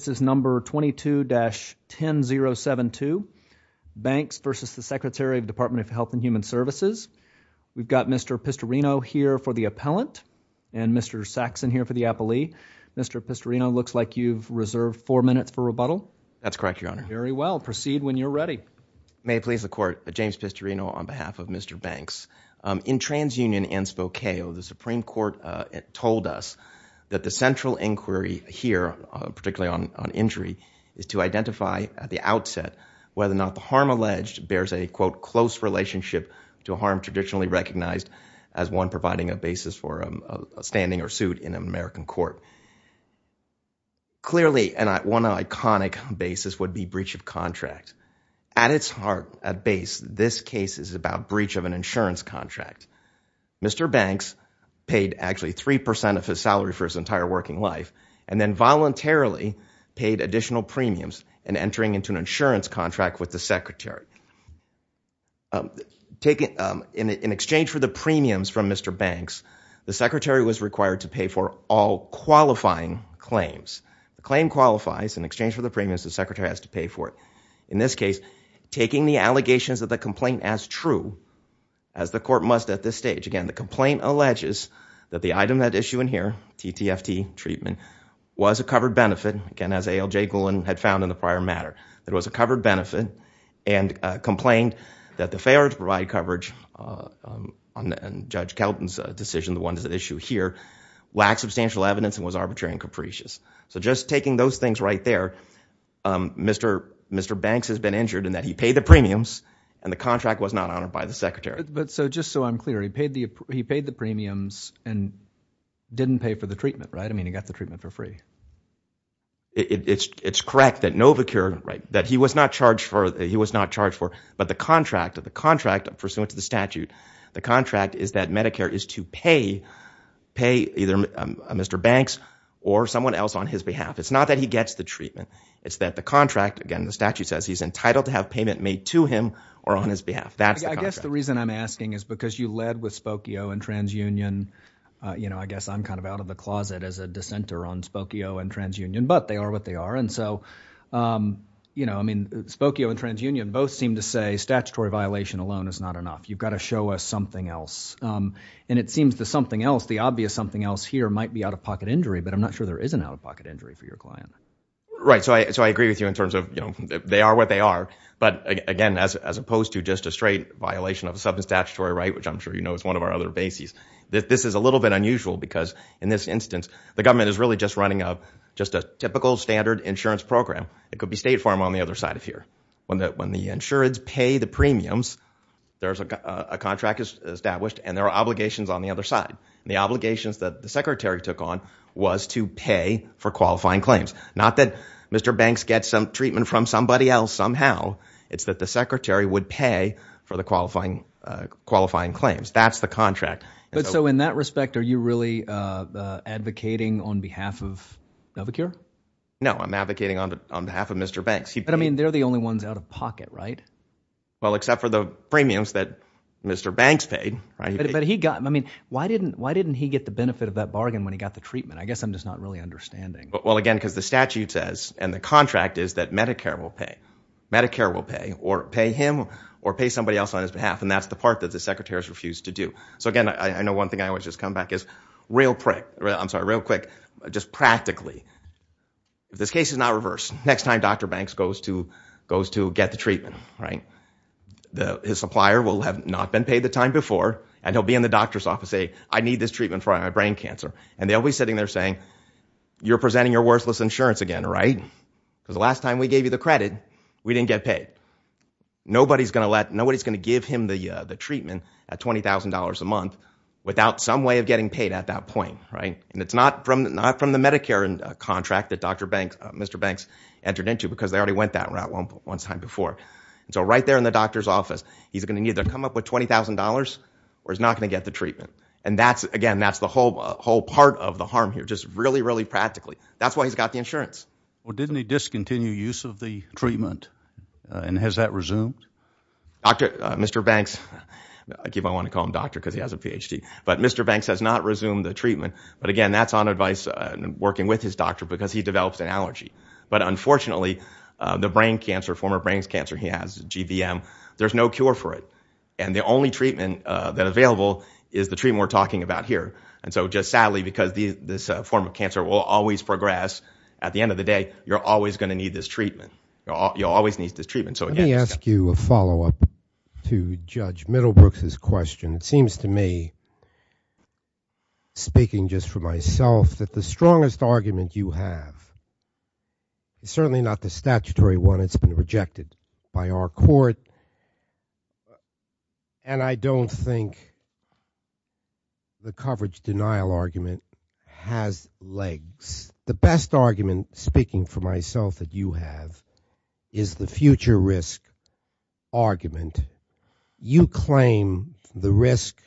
This is number 22-10072, Banks v. Secretary, Department of Health and Human Services. We've got Mr. Pistorino here for the appellant and Mr. Saxon here for the appellee. Mr. Pistorino, it looks like you've reserved four minutes for rebuttal. That's correct, Your Honor. Very well. Proceed when you're ready. May it please the Court. James Pistorino on behalf of Mr. Banks. In TransUnion and Spokeo, the Supreme Court told us that the central inquiry here, particularly on injury, is to identify at the outset whether or not the harm alleged bears a, quote, close relationship to a harm traditionally recognized as one providing a basis for a standing or suit in an American court. Clearly one iconic basis would be breach of contract. At its heart, at base, this case is about breach of an insurance contract. Mr. Banks paid actually 3 percent of his salary for his entire working life and then voluntarily paid additional premiums in entering into an insurance contract with the secretary. In exchange for the premiums from Mr. Banks, the secretary was required to pay for all qualifying claims. The claim qualifies. In exchange for the premiums, the secretary has to pay for it. In this case, taking the allegations of the complaint as true as the court must at this stage. Again, the complaint alleges that the item at issue in here, TTFT treatment, was a covered benefit. Again, as ALJ Golan had found in the prior matter. It was a covered benefit and complained that the failure to provide coverage on Judge Kelton's decision, the one at issue here, lacked substantial evidence and was arbitrary and capricious. Just taking those things right there, Mr. Banks has been injured in that he paid the premiums and the contract was not honored by the secretary. Just so I'm clear, he paid the premiums and didn't pay for the treatment, right? I mean, he got the treatment for free. It's correct that Novacure, that he was not charged for, but the contract, pursuant to the statute, the contract is that Medicare is to pay either Mr. Banks or someone else on his behalf. It's not that he gets the treatment. It's that the contract, again, the statute says he's entitled to have payment made to him or on his behalf. I guess the reason I'm asking is because you led with Spokio and TransUnion, you know, I guess I'm kind of out of the closet as a dissenter on Spokio and TransUnion, but they are what they are. And so, you know, I mean, Spokio and TransUnion both seem to say statutory violation alone is not enough. You've got to show us something else. And it seems the something else, the obvious something else here might be out-of-pocket injury, but I'm not sure there is an out-of-pocket injury for your client. Right. So I agree with you in terms of, you know, they are what they are. But again, as opposed to just a straight violation of a sub-statutory right, which I'm sure you know is one of our other bases, this is a little bit unusual because in this instance, the government is really just running up just a typical standard insurance program. It could be State Farm on the other side of here. When the insurance pay the premiums, there's a contract established and there are obligations on the other side. The obligations that the Secretary took on was to pay for qualifying claims. Not that Mr. Banks gets some treatment from somebody else somehow. It's that the Secretary would pay for the qualifying claims. That's the contract. But so in that respect, are you really advocating on behalf of Dovacure? No, I'm advocating on behalf of Mr. Banks. But I mean, they're the only ones out-of-pocket, right? Well, except for the premiums that Mr. Banks paid, right? But he got, I mean, why didn't he get the benefit of that bargain when he got the treatment? I guess I'm just not really understanding. Well, again, because the statute says and the contract is that Medicare will pay. Medicare will pay or pay him or pay somebody else on his behalf. And that's the part that the Secretary has refused to do. So again, I know one thing I always just come back is real quick, just practically, if this case is not reversed, next time Dr. Banks goes to get the treatment, right? His supplier will have not been paid the time before and he'll be in the doctor's office saying, I need this treatment for my brain cancer. And they'll be sitting there saying, you're presenting your worthless insurance again, right? Because the last time we gave you the credit, we didn't get paid. Nobody's going to let, nobody's going to give him the treatment at $20,000 a month without some way of getting paid at that point, right? And it's not from, not from the Medicare contract that Dr. Banks, Mr. Banks entered into because they already went that route one time before. So right there in the doctor's office, he's going to need to come up with $20,000 or he's not going to get the treatment. And that's, again, that's the whole, whole part of the harm here. Just really, really practically. That's why he's got the insurance. Well, didn't he discontinue use of the treatment and has that resumed? Dr. Mr. Banks, I keep on wanting to call him doctor because he has a PhD, but Mr. Banks has not resumed the treatment. But again, that's on advice and working with his doctor because he develops an allergy. But unfortunately the brain cancer, former brain cancer, he has GVM, there's no cure for it. And the only treatment that available is the treatment we're talking about here. And so just sadly, because this form of cancer will always progress, at the end of the day, you're always going to need this treatment. You'll always need this treatment. So again- Let me ask you a follow-up to Judge Middlebrooks' question. It seems to me, speaking just for myself, that the strongest argument you have is certainly not the statutory one. It's been rejected by our court. And I don't think the coverage denial argument has legs. The best argument, speaking for myself, that you have is the future risk argument. You claim the risk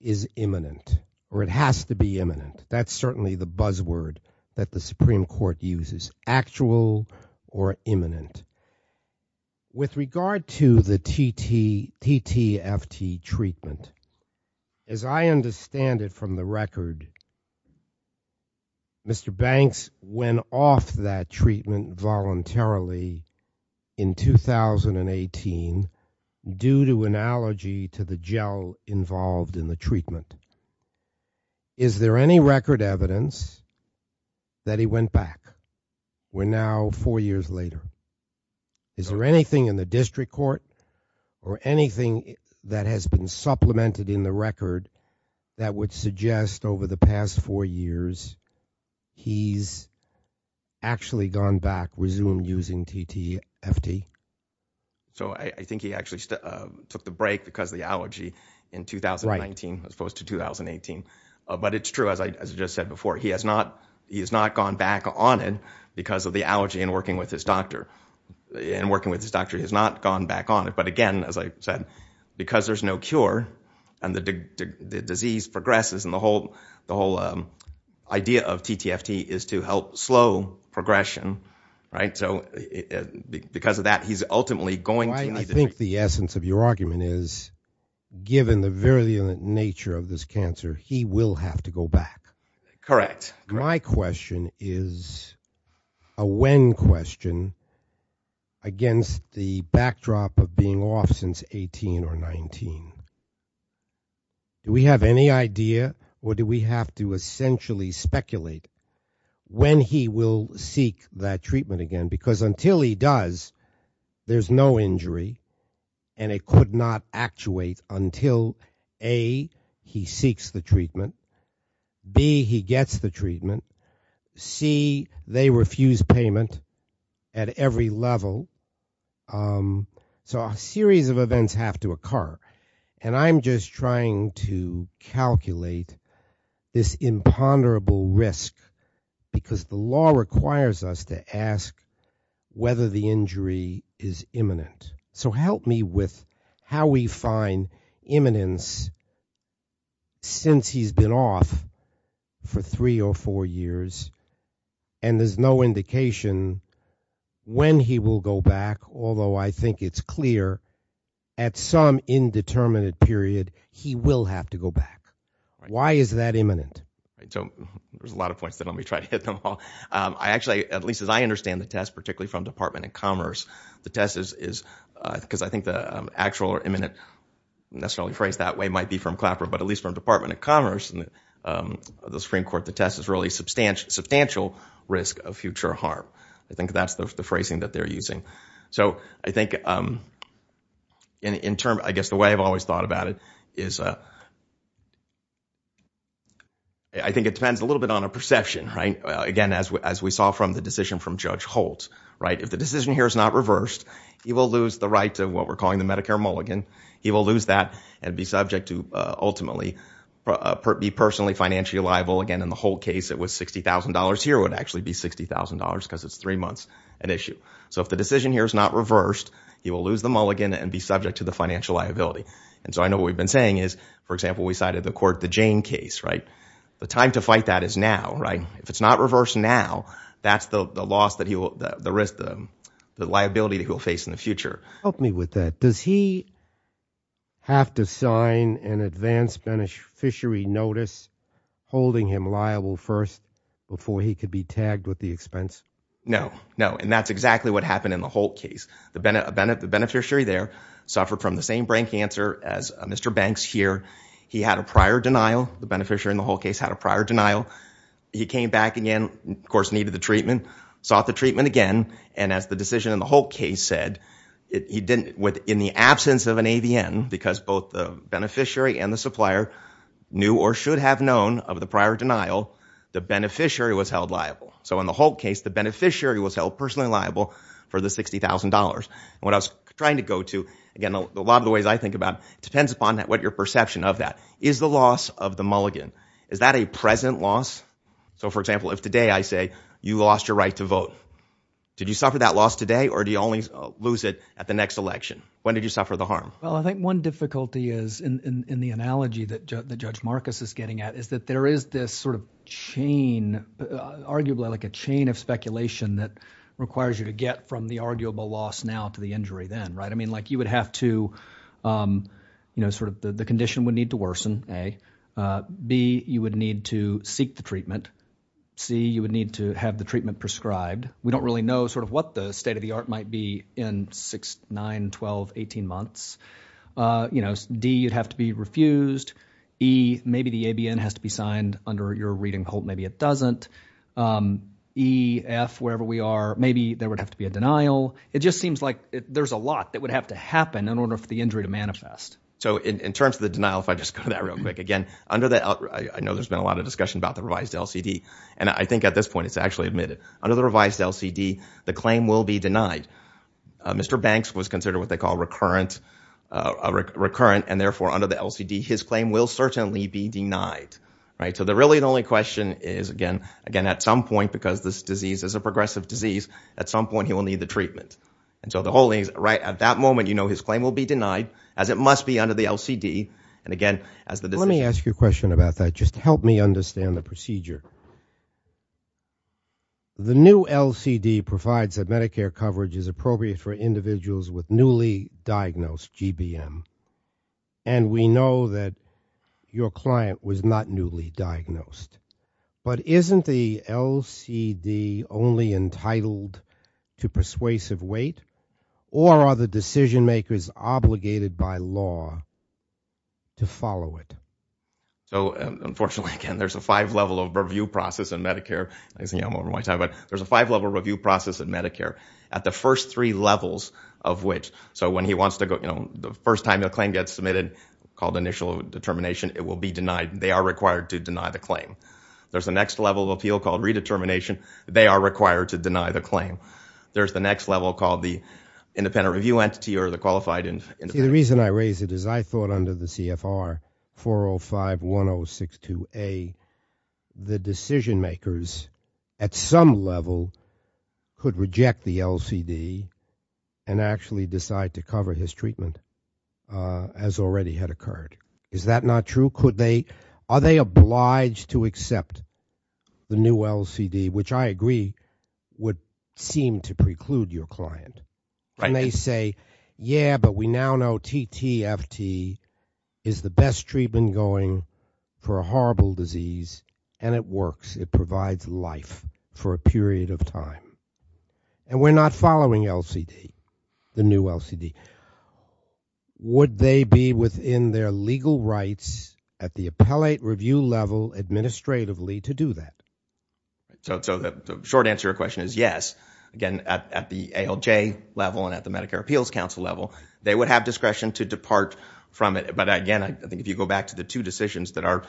is imminent or it has to be imminent. That's certainly the buzzword that the Supreme Court uses, actual or imminent. With regard to the TTFT treatment, as I understand it from the record, Mr. Banks went off that treatment voluntarily in 2018 due to an allergy to the gel involved in the treatment. Is there any record evidence that he went back? We're now four years later. Is there anything in the district court or anything that has been supplemented in the record that would suggest over the past four years he's actually gone back, resumed using TTFT? I think he actually took the break because of the allergy in 2019 as opposed to 2018. But it's true, as I just said before, he has not gone back on it because of the allergy in working with his doctor. In working with his doctor, he has not gone back on it. But again, as I said, because there's no cure and the disease progresses and the whole idea of TTFT is to help slow progression. So because of that, he's ultimately going to need the treatment. I think the essence of your argument is, given the virulent nature of this cancer, he will have to go back. Correct. My question is a when question against the backdrop of being off since 18 or 19. Do we have any idea or do we have to essentially speculate when he will seek that treatment again? Because until he does, there's no injury and it could not actuate until A, he seeks the treatment, B, he gets the treatment, C, they refuse payment at every level. So a series of events have to occur. And I'm just trying to calculate this imponderable risk because the law requires us to ask whether the injury is imminent. So help me with how we find imminence since he's been off for three or four years and there's no indication when he will go back, although I think it's clear at some indeterminate period, he will have to go back. Why is that imminent? So there's a lot of points that let me try to hit them all. I actually, at least as I understand the test, particularly from Department of Commerce, the test is because I think the actual or imminent necessarily phrase that way might be from Clapper, but at least from Department of Commerce and the Supreme Court, the test is really substantial risk of future harm. I think that's the phrasing that they're using. So I think in terms, I guess the way I've always thought about it is I think it depends a little bit on a perception, right? Again as we saw from the decision from Judge Holt, if the decision here is not reversed, he will lose the right to what we're calling the Medicare mulligan. He will lose that and be subject to ultimately be personally financially liable, again in the Holt case it was $60,000, here it would actually be $60,000 because it's three months at issue. So if the decision here is not reversed, he will lose the mulligan and be subject to the financial liability. And so I know what we've been saying is, for example, we cited the court, the Jane case, right? The time to fight that is now, right? If it's not reversed now, that's the loss that he will, the risk, the liability that he will face in the future. Help me with that. Does he have to sign an advance beneficiary notice holding him liable first before he could be tagged with the expense? No, no. And that's exactly what happened in the Holt case. The beneficiary there suffered from the same brain cancer as Mr. Banks here. He had a prior denial, the beneficiary in the Holt case had a prior denial. He came back again, of course needed the treatment, sought the treatment again, and as the decision in the Holt case said, in the absence of an AVN, because both the beneficiary and the supplier knew or should have known of the prior denial, the beneficiary was held liable. So in the Holt case, the beneficiary was held personally liable for the $60,000. And what I was trying to go to, again, a lot of the ways I think about it, it depends upon what your perception of that. Is the loss of the mulligan, is that a present loss? So for example, if today I say, you lost your right to vote, did you suffer that loss today or do you only lose it at the next election? When did you suffer the harm? Well, I think one difficulty is, in the analogy that Judge Marcus is getting at, is that there is this sort of chain, arguably like a chain of speculation that requires you to get from the arguable loss now to the injury then, right? I mean, like you would have to, you know, sort of the condition would need to worsen, A. B, you would need to seek the treatment, C, you would need to have the treatment prescribed. We don't really know sort of what the state of the art might be in 6, 9, 12, 18 months. You know, D, you'd have to be refused, E, maybe the ABN has to be signed under your reading Holt, maybe it doesn't, E, F, wherever we are, maybe there would have to be a denial. It just seems like there's a lot that would have to happen in order for the injury to manifest. So in terms of the denial, if I just go to that real quick, again, I know there's been a lot of discussion about the revised LCD. And I think at this point it's actually admitted. Under the revised LCD, the claim will be denied. Mr. Banks was considered what they call recurrent, and therefore under the LCD, his claim will certainly be denied, right? So really the only question is, again, at some point, because this disease is a progressive disease, at some point he will need the treatment. And so the whole thing is, right, at that moment, you know, his claim will be denied as it must be under the LCD. And again, as the... Let me ask you a question about that. Just help me understand the procedure. The new LCD provides that Medicare coverage is appropriate for individuals with newly diagnosed GBM. And we know that your client was not newly diagnosed. But isn't the LCD only entitled to persuasive weight? Or are the decision makers obligated by law to follow it? So unfortunately, again, there's a five-level review process in Medicare. I think I'm over my time, but there's a five-level review process in Medicare, at the first three levels of which... So when he wants to go... You know, the first time the claim gets submitted, called initial determination, it will be denied. They are required to deny the claim. There's a next level of appeal called redetermination. They are required to deny the claim. There's the next level called the independent review entity or the qualified independent... See, the reason I raise it is I thought under the CFR 4051062A, the decision makers at some level could reject the LCD and actually decide to cover his treatment as already had occurred. Is that not true? Could they... Are they obliged to accept the new LCD, which I agree would seem to preclude your client? And they say, yeah, but we now know TTFT is the best treatment going for a horrible disease and it works. It provides life for a period of time. And we're not following LCD, the new LCD. Would they be within their legal rights at the appellate review level administratively to do that? So the short answer to your question is yes. Again, at the ALJ level and at the Medicare Appeals Council level, they would have discretion to depart from it. But again, I think if you go back to the two decisions that are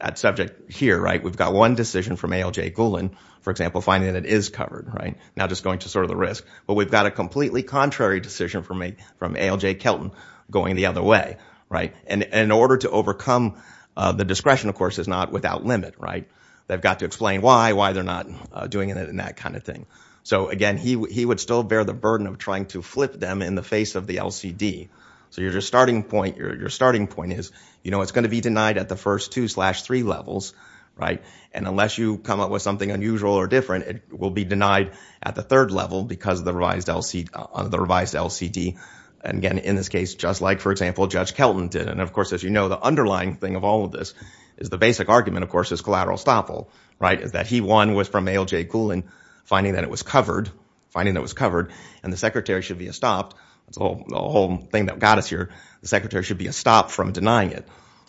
at subject here, right, we've got one decision from ALJ Golan, for example, finding that it is covered, right? Now just going to sort of the risk. But we've got a completely contrary decision from ALJ Kelton going the other way, right? And in order to overcome the discretion, of course, is not without limit, right? They've got to explain why, why they're not doing it and that kind of thing. So again, he would still bear the burden of trying to flip them in the face of the LCD. So your starting point is, you know, it's going to be denied at the first two slash three levels, right? And unless you come up with something unusual or different, it will be denied at the third level because of the revised LCD. And again, in this case, just like, for example, Judge Kelton did. And of course, as you know, the underlying thing of all of this is the basic argument, of course, is collateral estoppel, right, is that he, one, was from ALJ Golan finding that it was covered, finding that it was covered, and the secretary should be estopped. The whole thing that got us here, the secretary should be estopped from denying it.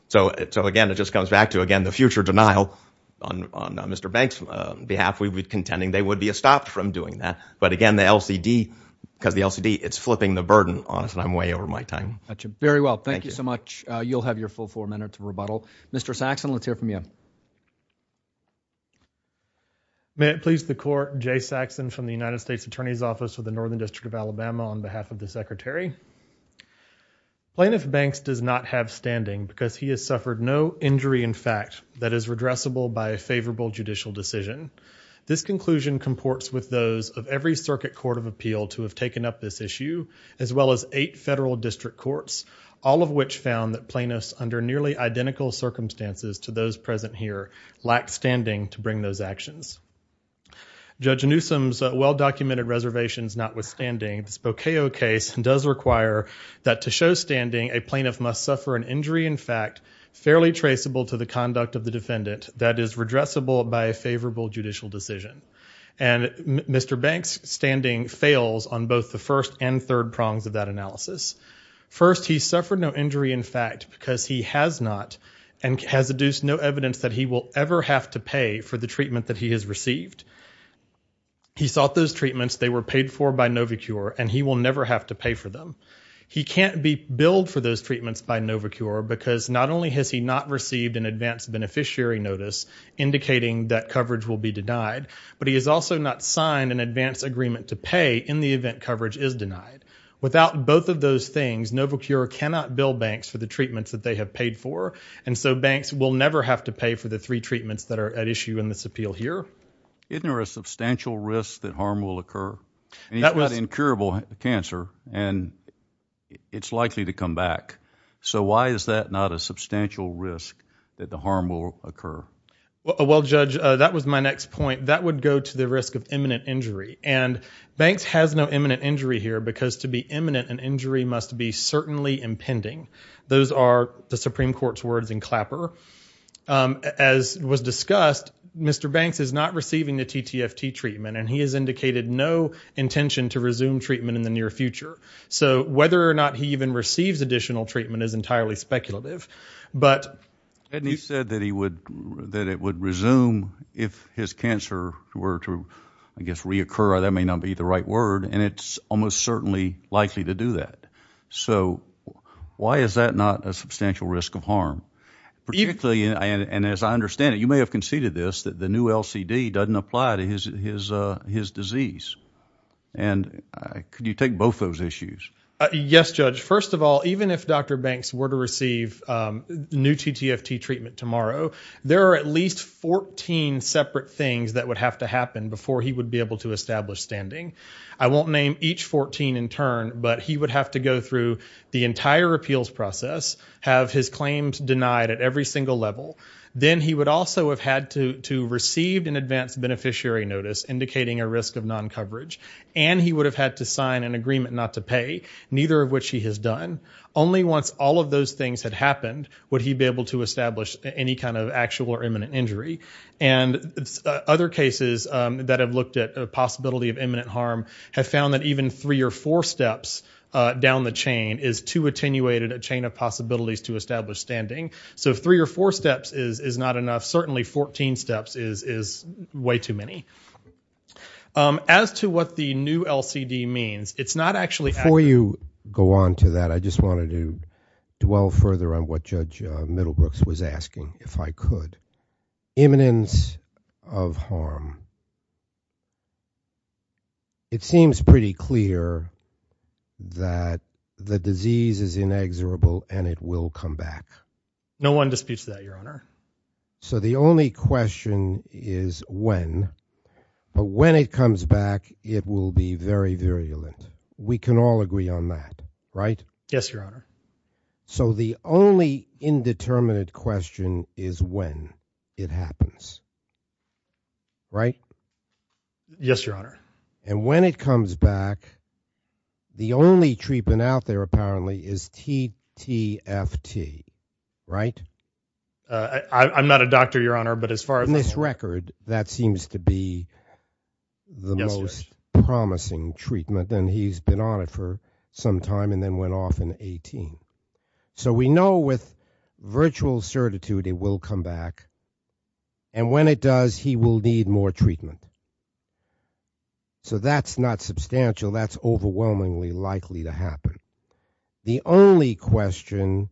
So again, it just comes back to, again, the future denial on Mr. Banks' behalf. We would be contending they would be estopped from doing that. But again, the LCD, because the LCD, it's flipping the burden on us, and I'm way over my time. Very well. Thank you so much. You'll have your full four minutes of rebuttal. Mr. Saxon, let's hear from you. May it please the court, Jay Saxon from the United States Attorney's Office for the Northern District of Alabama on behalf of the secretary. Plaintiff Banks does not have standing because he has suffered no injury in fact that is redressable by a favorable judicial decision. This conclusion comports with those of every circuit court of appeal to have taken up this issue as well as eight federal district courts, all of which found that plaintiffs under nearly identical circumstances to those present here lacked standing to bring those actions. Judge Newsom's well-documented reservations notwithstanding, the Spokeo case does require that to show standing, a plaintiff must suffer an injury in fact fairly traceable to the conduct of the defendant that is redressable by a favorable judicial decision. And Mr. Banks' standing fails on both the first and third prongs of that analysis. First, he suffered no injury in fact because he has not and has adduced no evidence that he will ever have to pay for the treatment that he has received. He sought those treatments. They were paid for by Novacure and he will never have to pay for them. He can't be billed for those treatments by Novacure because not only has he not received an advance beneficiary notice indicating that coverage will be denied, but he has also not signed an advance agreement to pay in the event coverage is denied. Without both of those things, Novacure cannot bill Banks for the treatments that they have paid for and so Banks will never have to pay for the three treatments that are at issue in this appeal here. Isn't there a substantial risk that harm will occur? He's got incurable cancer and it's likely to come back. So why is that not a substantial risk that the harm will occur? Well Judge, that was my next point. That would go to the risk of imminent injury. And Banks has no imminent injury here because to be imminent an injury must be certainly impending. Those are the Supreme Court's words in Clapper. As was discussed, Mr. Banks is not receiving the TTFT treatment and he has indicated no intention to resume treatment in the near future. So whether or not he even receives additional treatment is entirely speculative. But he said that he would, that it would resume if his cancer were to, I guess, reoccur or that may not be the right word and it's almost certainly likely to do that. So why is that not a substantial risk of harm? Particularly, and as I understand it, you may have conceded this, that the new LCD doesn't apply to his disease. And could you take both those issues? Yes, Judge. First of all, even if Dr. Banks were to receive new TTFT treatment tomorrow, there are at least 14 separate things that would have to happen before he would be able to establish standing. I won't name each 14 in turn, but he would have to go through the entire appeals process, have his claims denied at every single level. Then he would also have had to receive an advance beneficiary notice indicating a risk of non-coverage. And he would have had to sign an agreement not to pay, neither of which he has done. Only once all of those things had happened would he be able to establish any kind of actual or imminent injury. And other cases that have looked at a possibility of imminent harm have found that even three or four steps down the chain is too attenuated a chain of possibilities to establish standing. So three or four steps is not enough. Certainly 14 steps is way too many. As to what the new LCD means, it's not actually accurate. Before you go on to that, I just wanted to dwell further on what Judge Middlebrooks was asking, if I could. Imminence of harm. It seems pretty clear that the disease is inexorable and it will come back. No one disputes that, Your Honor. So the only question is when, but when it comes back, it will be very virulent. We can all agree on that, right? Yes, Your Honor. So the only indeterminate question is when it happens, right? Yes, Your Honor. And when it comes back, the only treatment out there apparently is TTFT, right? I'm not a doctor, Your Honor, but as far as I know. On this record, that seems to be the most promising treatment and he's been on it for some time and then went off in 18. So we know with virtual certitude it will come back. And when it does, he will need more treatment. So that's not substantial. That's overwhelmingly likely to happen. The only question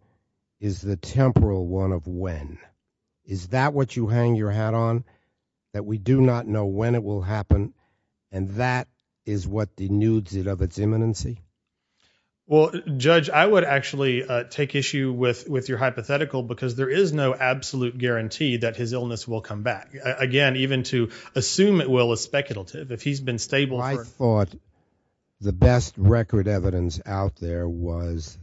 is the temporal one of when. Is that what you hang your hat on? That we do not know when it will happen and that is what denudes it of its imminency? Well, Judge, I would actually take issue with your hypothetical because there is no absolute guarantee that his illness will come back. Again, even to assume it will is speculative. If he's been stable, I thought the best record evidence out there was.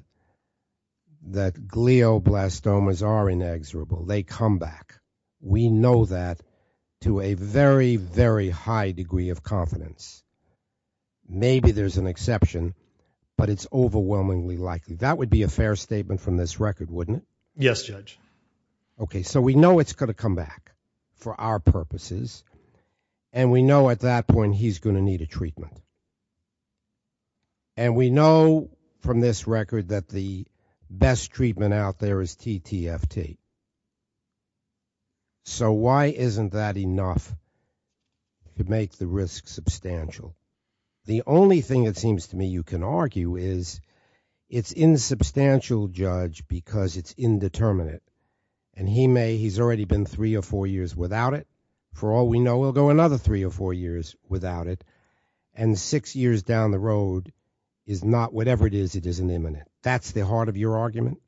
That glial blastomas are inexorable. They come back. We know that to a very, very high degree of confidence. Maybe there's an exception, but it's overwhelmingly likely that would be a fair statement from this record, wouldn't it? Yes, Judge. OK, so we know it's going to come back for our purposes. And we know at that point he's going to need a treatment. And we know from this record that the best treatment out there is TTFT. So why isn't that enough to make the risk substantial? The only thing it seems to me you can argue is it's insubstantial, Judge, because it's indeterminate. And he's already been three or four years without it. For all we know, we'll go another three or four years without it. And six years down the road is not whatever it is, it isn't imminent. That's the heart of your argument.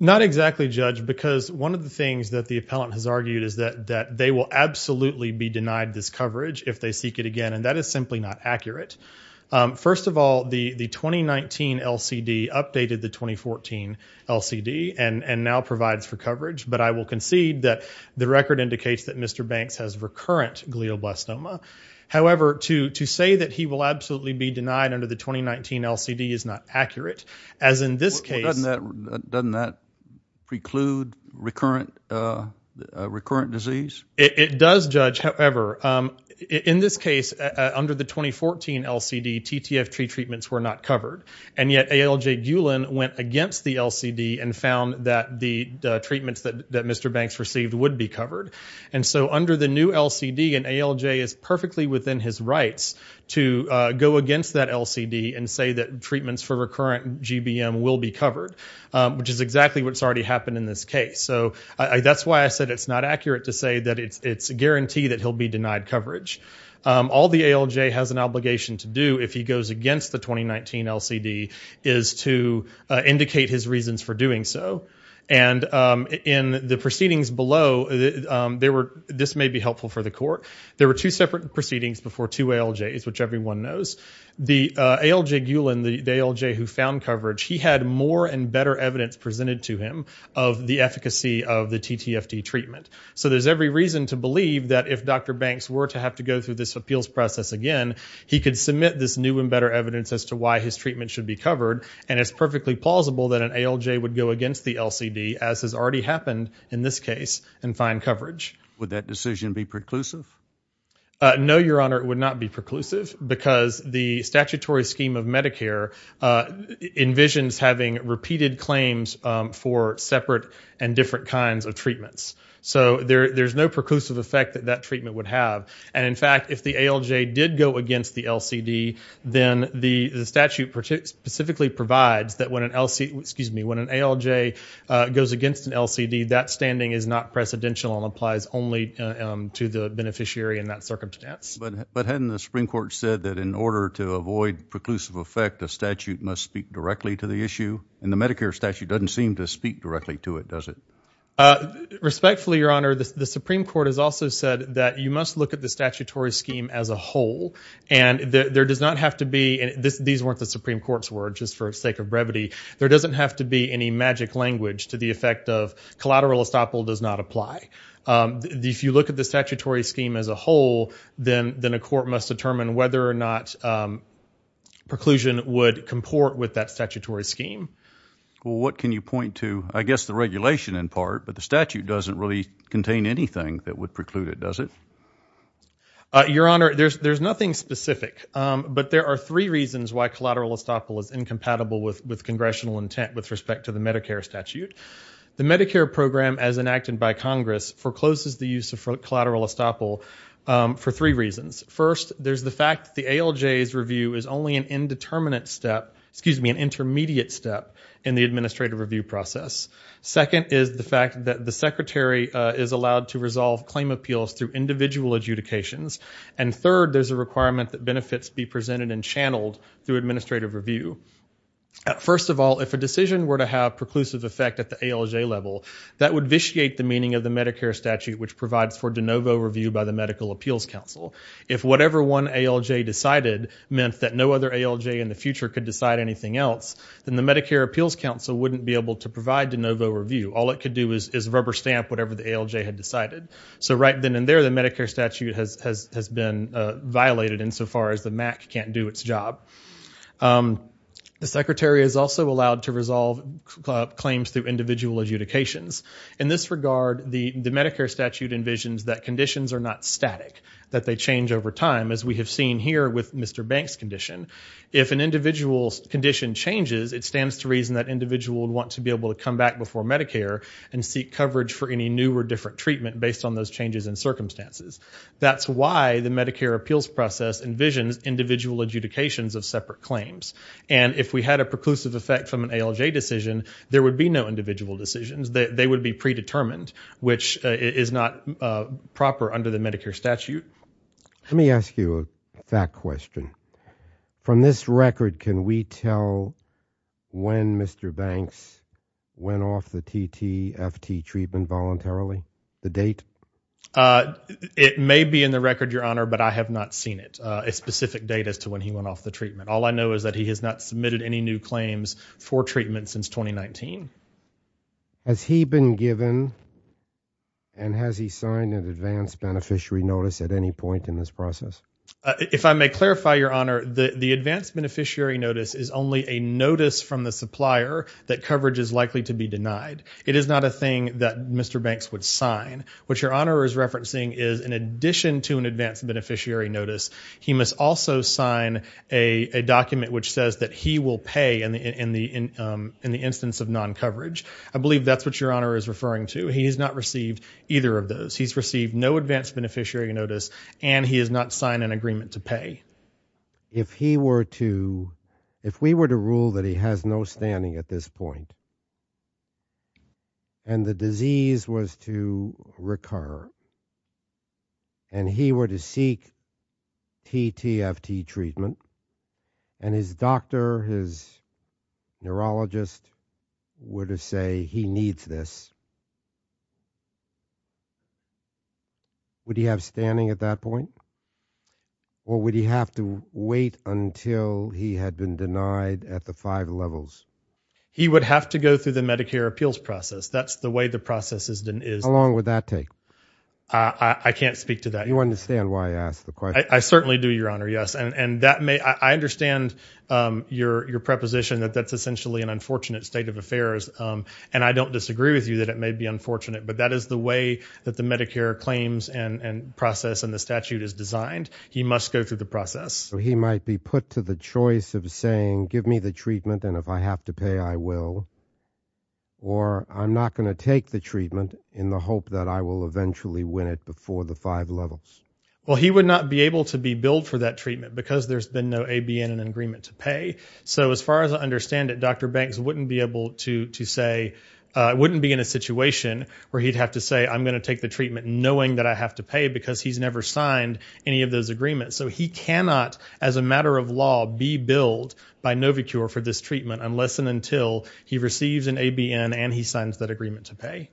Not exactly, Judge, because one of the things that the appellant has argued is that they will absolutely be denied this coverage if they seek it again. And that is simply not accurate. First of all, the 2019 LCD updated the 2014 LCD and now provides for coverage. But I will concede that the record indicates that Mr. Banks has recurrent glioblastoma. However, to say that he will absolutely be denied under the 2019 LCD is not accurate. As in this case... Doesn't that preclude recurrent disease? It does, Judge. However, in this case, under the 2014 LCD, TTFT treatments were not covered. And yet ALJ Gulen went against the LCD and found that the treatments that Mr. Banks received would be covered. And so under the new LCD, an ALJ is perfectly within his rights to go against that LCD and say that treatments for recurrent GBM will be covered, which is exactly what's already happened in this case. So that's why I said it's not accurate to say that it's a guarantee that he'll be denied coverage. All the ALJ has an obligation to do if he goes against the 2019 LCD is to indicate his reasons for doing so. And in the proceedings below, this may be helpful for the court, there were two separate proceedings before two ALJs, which everyone knows. The ALJ Gulen, the ALJ who found coverage, he had more and better evidence presented to him of the efficacy of the TTFT treatment. So there's every reason to believe that if Dr. Banks were to have to go through this appeals process again, he could submit this new and better evidence as to why his treatment should be covered. And it's perfectly plausible that an ALJ would go against the LCD, as has already happened in this case, and find coverage. Would that decision be preclusive? No, Your Honor, it would not be preclusive because the statutory scheme of Medicare envisions having repeated claims for separate and different kinds of treatments. So there's no preclusive effect that that treatment would have. And in fact, if the ALJ did go against the LCD, then the statute specifically provides that when an ALJ goes against an LCD, that standing is not precedential and applies only to the beneficiary in that circumstance. But hadn't the Supreme Court said that in order to avoid preclusive effect, a statute must speak directly to the issue? And the Medicare statute doesn't seem to speak directly to it, does it? Respectfully, Your Honor, the Supreme Court has also said that you must look at the statutory scheme as a whole. And there does not have to be, and these weren't the Supreme Court's words, just for the sake of brevity, there doesn't have to be any magic language to the effect of collateral estoppel does not apply. If you look at the statutory scheme as a whole, then a court must determine whether or not preclusion would comport with that statutory scheme. Well, what can you point to, I guess the regulation in part, but the statute doesn't really contain anything that would preclude it, does it? Your Honor, there's nothing specific. But there are three reasons why collateral estoppel is incompatible with congressional intent with respect to the Medicare statute. The Medicare program as enacted by Congress forecloses the use of collateral estoppel for three reasons. First, there's the fact that the ALJ's review is only an indeterminate step, excuse me, an intermediate step in the administrative review process. Second is the fact that the Secretary is allowed to resolve claim appeals through individual adjudications. And third, there's a requirement that benefits be presented and channeled through administrative review. First of all, if a decision were to have preclusive effect at the ALJ level, that would vitiate the meaning of the Medicare statute which provides for de novo review by the Medical Appeals Council. If whatever one ALJ decided meant that no other ALJ in the future could decide anything else, then the Medicare Appeals Council wouldn't be able to provide de novo review. All it could do is rubber stamp whatever the ALJ had decided. So right then and there, the Medicare statute has been violated insofar as the MAC can't do its job. The Secretary is also allowed to resolve claims through individual adjudications. In this regard, the Medicare statute envisions that conditions are not static, that they If an individual condition changes, it stands to reason that individual would want to be able to come back before Medicare and seek coverage for any new or different treatment based on those changes in circumstances. That's why the Medicare appeals process envisions individual adjudications of separate claims. And if we had a preclusive effect from an ALJ decision, there would be no individual decisions. They would be predetermined, which is not proper under the Medicare statute. Let me ask you a fact question. From this record, can we tell when Mr. Banks went off the TTFT treatment voluntarily? The date? It may be in the record, Your Honor, but I have not seen it, a specific date as to when he went off the treatment. All I know is that he has not submitted any new claims for treatment since 2019. Has he been given and has he signed an advance beneficiary notice at any point in this process? If I may clarify, Your Honor, the advance beneficiary notice is only a notice from the supplier that coverage is likely to be denied. It is not a thing that Mr. Banks would sign. What Your Honor is referencing is in addition to an advance beneficiary notice, he must also sign a document which says that he will pay in the instance of non-coverage. I believe that's what Your Honor is referring to. He has not received either of those. He's received no advance beneficiary notice and he has not signed an agreement to pay. If he were to, if we were to rule that he has no standing at this point and the disease was to recur and he were to seek TTFT treatment and his doctor, his neurologist were to say he needs this, would he have standing at that point or would he have to wait until he had been denied at the five levels? He would have to go through the Medicare appeals process. That's the way the process is. How long would that take? I can't speak to that. You understand why I asked the question. I certainly do, Your Honor, yes. And that may, I understand your preposition that that's essentially an unfortunate state of affairs. And I don't disagree with you that it may be unfortunate, but that is the way that the Medicare claims and process and the statute is designed. He must go through the process. He might be put to the choice of saying, give me the treatment and if I have to pay, I will. Or I'm not going to take the treatment in the hope that I will eventually win it before the five levels. Well, he would not be able to be billed for that treatment because there's been no A, B, and an agreement to pay. So as far as I understand it, Dr. Banks wouldn't be able to say, wouldn't be in a situation where he'd have to say, I'm going to take the treatment knowing that I have to pay because he's never signed any of those agreements. So he cannot, as a matter of law, be billed by Novacure for this treatment unless and until he receives an ABN and he signs that agreement to pay.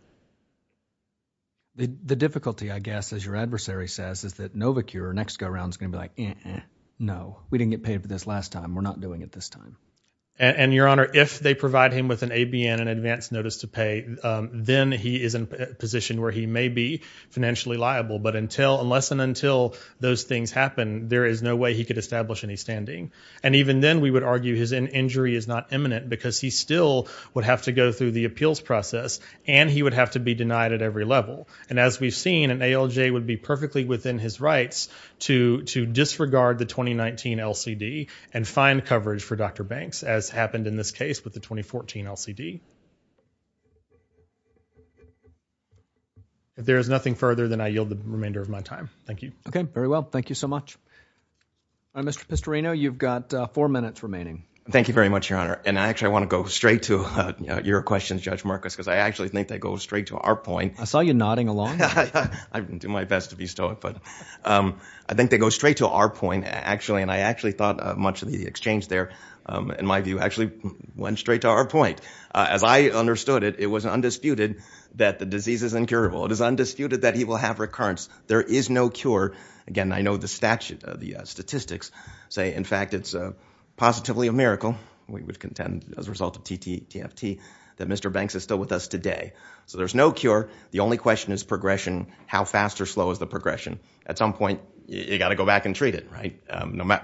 The difficulty, I guess, as your adversary says, is that Novacure next go around is going to be like, no, we didn't get paid for this last time. We're not doing it this time. And Your Honor, if they provide him with an ABN, an advance notice to pay, then he is in a position where he may be financially liable. But until, unless and until those things happen, there is no way he could establish any standing. And even then, we would argue his injury is not imminent because he still would have to go through the appeals process and he would have to be denied at every level. And as we've seen, an ALJ would be perfectly within his rights to disregard the 2019 LCD and find coverage for Dr. Banks, as happened in this case with the 2014 LCD. If there is nothing further, then I yield the remainder of my time. Thank you. Okay, very well. Thank you so much. Mr. Pistorino, you've got four minutes remaining. Thank you very much, Your Honor. And actually, I want to go straight to your questions, Judge Marcus, because I actually think they go straight to our point. I saw you nodding along. I didn't do my best to bestow it, but I think they go straight to our point, actually. And I actually thought much of the exchange there, in my view, actually went straight to our point. As I understood it, it was undisputed that the disease is incurable. It is undisputed that he will have recurrence. There is no cure. Again, I know the statistics say, in fact, it's positively a miracle, we would contend as a result of TFT, that Mr. Banks is still with us today. So there's no cure. The only question is progression. How fast or slow is the progression? At some point, you've got to go back and treat it,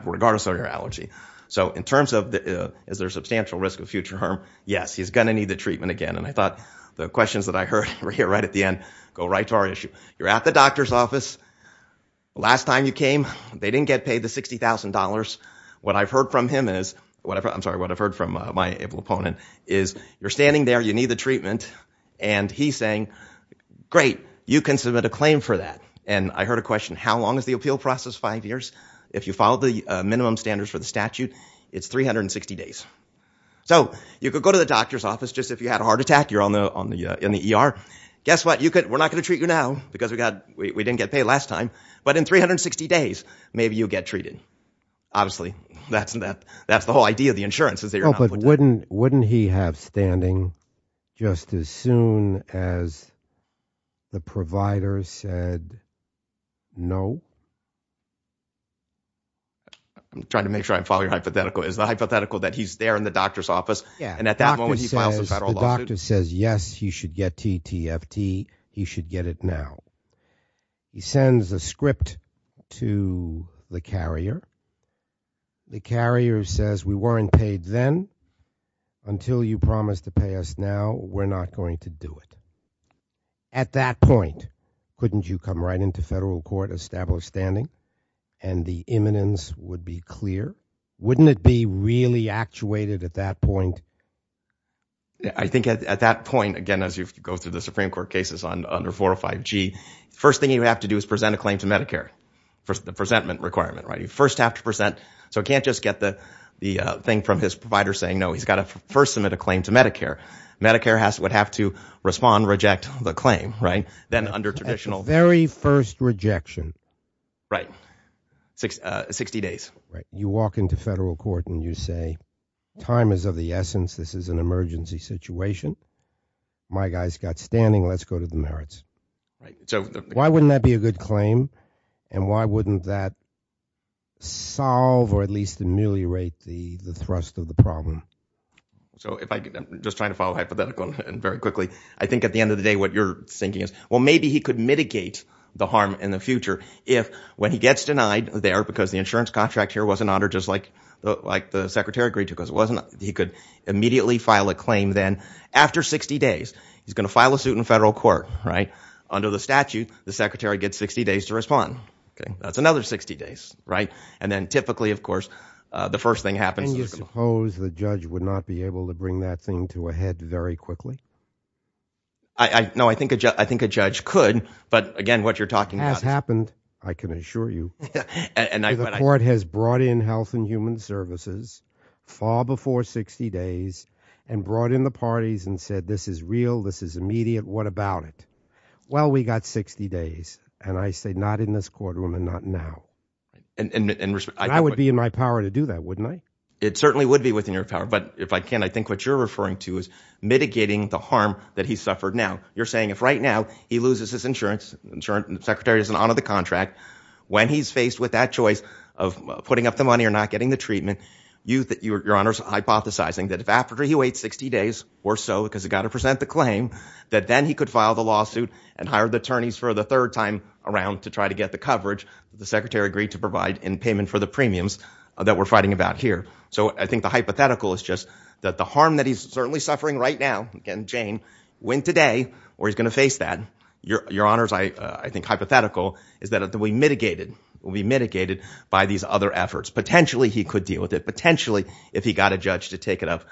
regardless of your allergy. So in terms of is there a substantial risk of future harm, yes, he's going to need the treatment again. And I thought the questions that I heard right at the end go right to our issue. You're at the doctor's office. Last time you came, they didn't get paid the $60,000. What I've heard from him is, I'm sorry, what I've heard from my able opponent is, you're standing there, you need the treatment, and he's saying, great, you can submit a claim for that. And I heard a question, how long is the appeal process, five years? If you follow the minimum standards for the statute, it's 360 days. So you could go to the doctor's office, just if you had a heart attack, you're in the ER. Guess what? We're not going to treat you now, because we didn't get paid last time. But in 360 days, maybe you'll get treated. Obviously, that's the whole idea of the insurance, is that you're not going to get treated. Wouldn't he have standing just as soon as the provider said, no? I'm trying to make sure I'm following your hypothetical. Is the hypothetical that he's there in the doctor's office, and at that moment, he files a federal lawsuit? The doctor says, yes, he should get TTFT, he should get it now. He sends a script to the carrier. The carrier says, we weren't paid then. Until you promise to pay us now, we're not going to do it. At that point, couldn't you come right into federal court, establish standing, and the imminence would be clear? Wouldn't it be really actuated at that point? I think at that point, again, as you go through the Supreme Court cases under 405G, the first thing you have to do is present a claim to Medicare, the presentment requirement, right? You first have to present. So it can't just get the thing from his provider saying, no, he's got to first submit a claim to Medicare. Medicare would have to respond, reject the claim, right? Then under traditional- At the very first rejection. Right. 60 days. You walk into federal court and you say, time is of the essence. This is an emergency situation. My guy's got standing, let's go to the merits. Why wouldn't that be a good claim? And why wouldn't that solve or at least ameliorate the thrust of the problem? So if I could, I'm just trying to follow hypothetical and very quickly. I think at the end of the day, what you're thinking is, well, maybe he could mitigate the harm in the future if when he gets denied there, because the insurance contract here wasn't honored just like the secretary agreed to, because it wasn't, he could immediately file a claim. Then after 60 days, he's going to file a suit in federal court, right? Under the statute, the secretary gets 60 days to respond. That's another 60 days, right? And then typically, of course, the first thing that happens- And you suppose the judge would not be able to bring that thing to a head very quickly? No, I think a judge could, but again, what you're talking about- Has happened, I can assure you. And the court has brought in health and human services far before 60 days and brought in the parties and said, this is real, this is immediate. What about it? Well, we got 60 days and I say not in this courtroom and not now. I would be in my power to do that, wouldn't I? It certainly would be within your power, but if I can, I think what you're referring to is mitigating the harm that he's suffered now. You're saying if right now, he loses his insurance, the secretary doesn't honor the contract, when he's faced with that choice of putting up the money or not getting the treatment, your honor's hypothesizing that if after he waits 60 days or so, because he got to present the claim, that then he could file the lawsuit and hire the attorneys for the third time around to try to get the coverage that the secretary agreed to provide in payment for the premiums that we're fighting about here. So I think the hypothetical is just that the harm that he's certainly suffering right now, again, Jane, when today, where he's going to face that, your honor's, I think, hypothetical is that it will be mitigated, will be mitigated by these other efforts. Potentially he could deal with it, potentially if he got a judge to take it up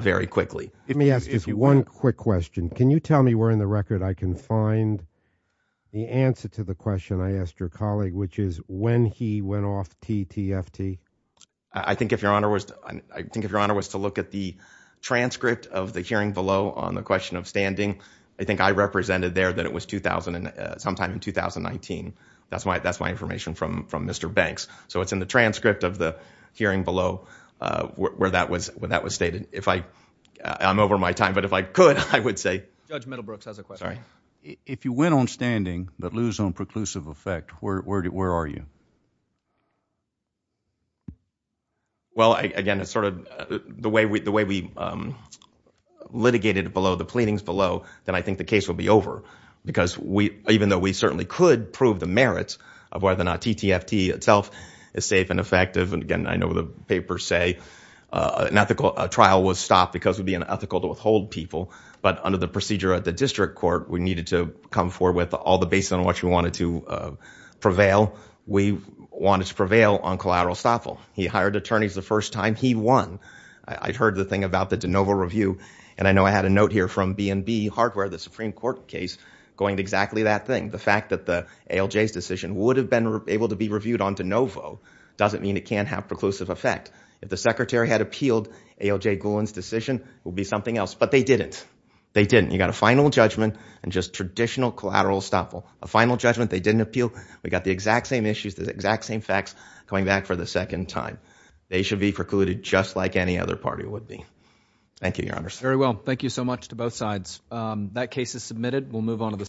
very quickly. Let me ask you one quick question. Can you tell me where in the record I can find the answer to the question I asked your colleague, which is when he went off TTFT? I think if your honor was, I think if your honor was to look at the transcript of the hearing below on the question of standing, I think I represented there that it was 2000 and sometime in 2019. That's my, that's my information from, from Mr. Banks. So it's in the transcript of the hearing below, uh, where that was, when that was stated, if I I'm over my time, but if I could, I would say judge Middlebrooks has a question. If you went on standing, but lose on preclusive effect, where, where do, where are you? Well, I, again, it's sort of the way we, the way we, um, litigated below the pleadings below then I think the case will be over because we, even though we certainly could prove the merits of whether or not TTFT itself is safe and effective. And again, I know the papers say, uh, an ethical trial was stopped because it would be unethical to withhold people. But under the procedure at the district court, we needed to come forward with all the base on what you wanted to, uh, prevail. We wanted to prevail on collateral estoppel. He hired attorneys the first time he won, I'd heard the thing about the DeNovo review. And I know I had a note here from BNB hardware, the Supreme court case going to exactly that thing. The fact that the ALJ's decision would have been able to be reviewed on DeNovo doesn't mean it can't have preclusive effect. If the secretary had appealed ALJ Gulen's decision will be something else, but they didn't. They didn't. You got a final judgment and just traditional collateral estoppel, a final judgment. They didn't appeal. We got the exact same issues, the exact same facts coming back for the second time. They should be precluded just like any other party would be. Thank you, your honors. Very well. Thank you so much to both sides. Um, that case is submitted. We'll move on to the.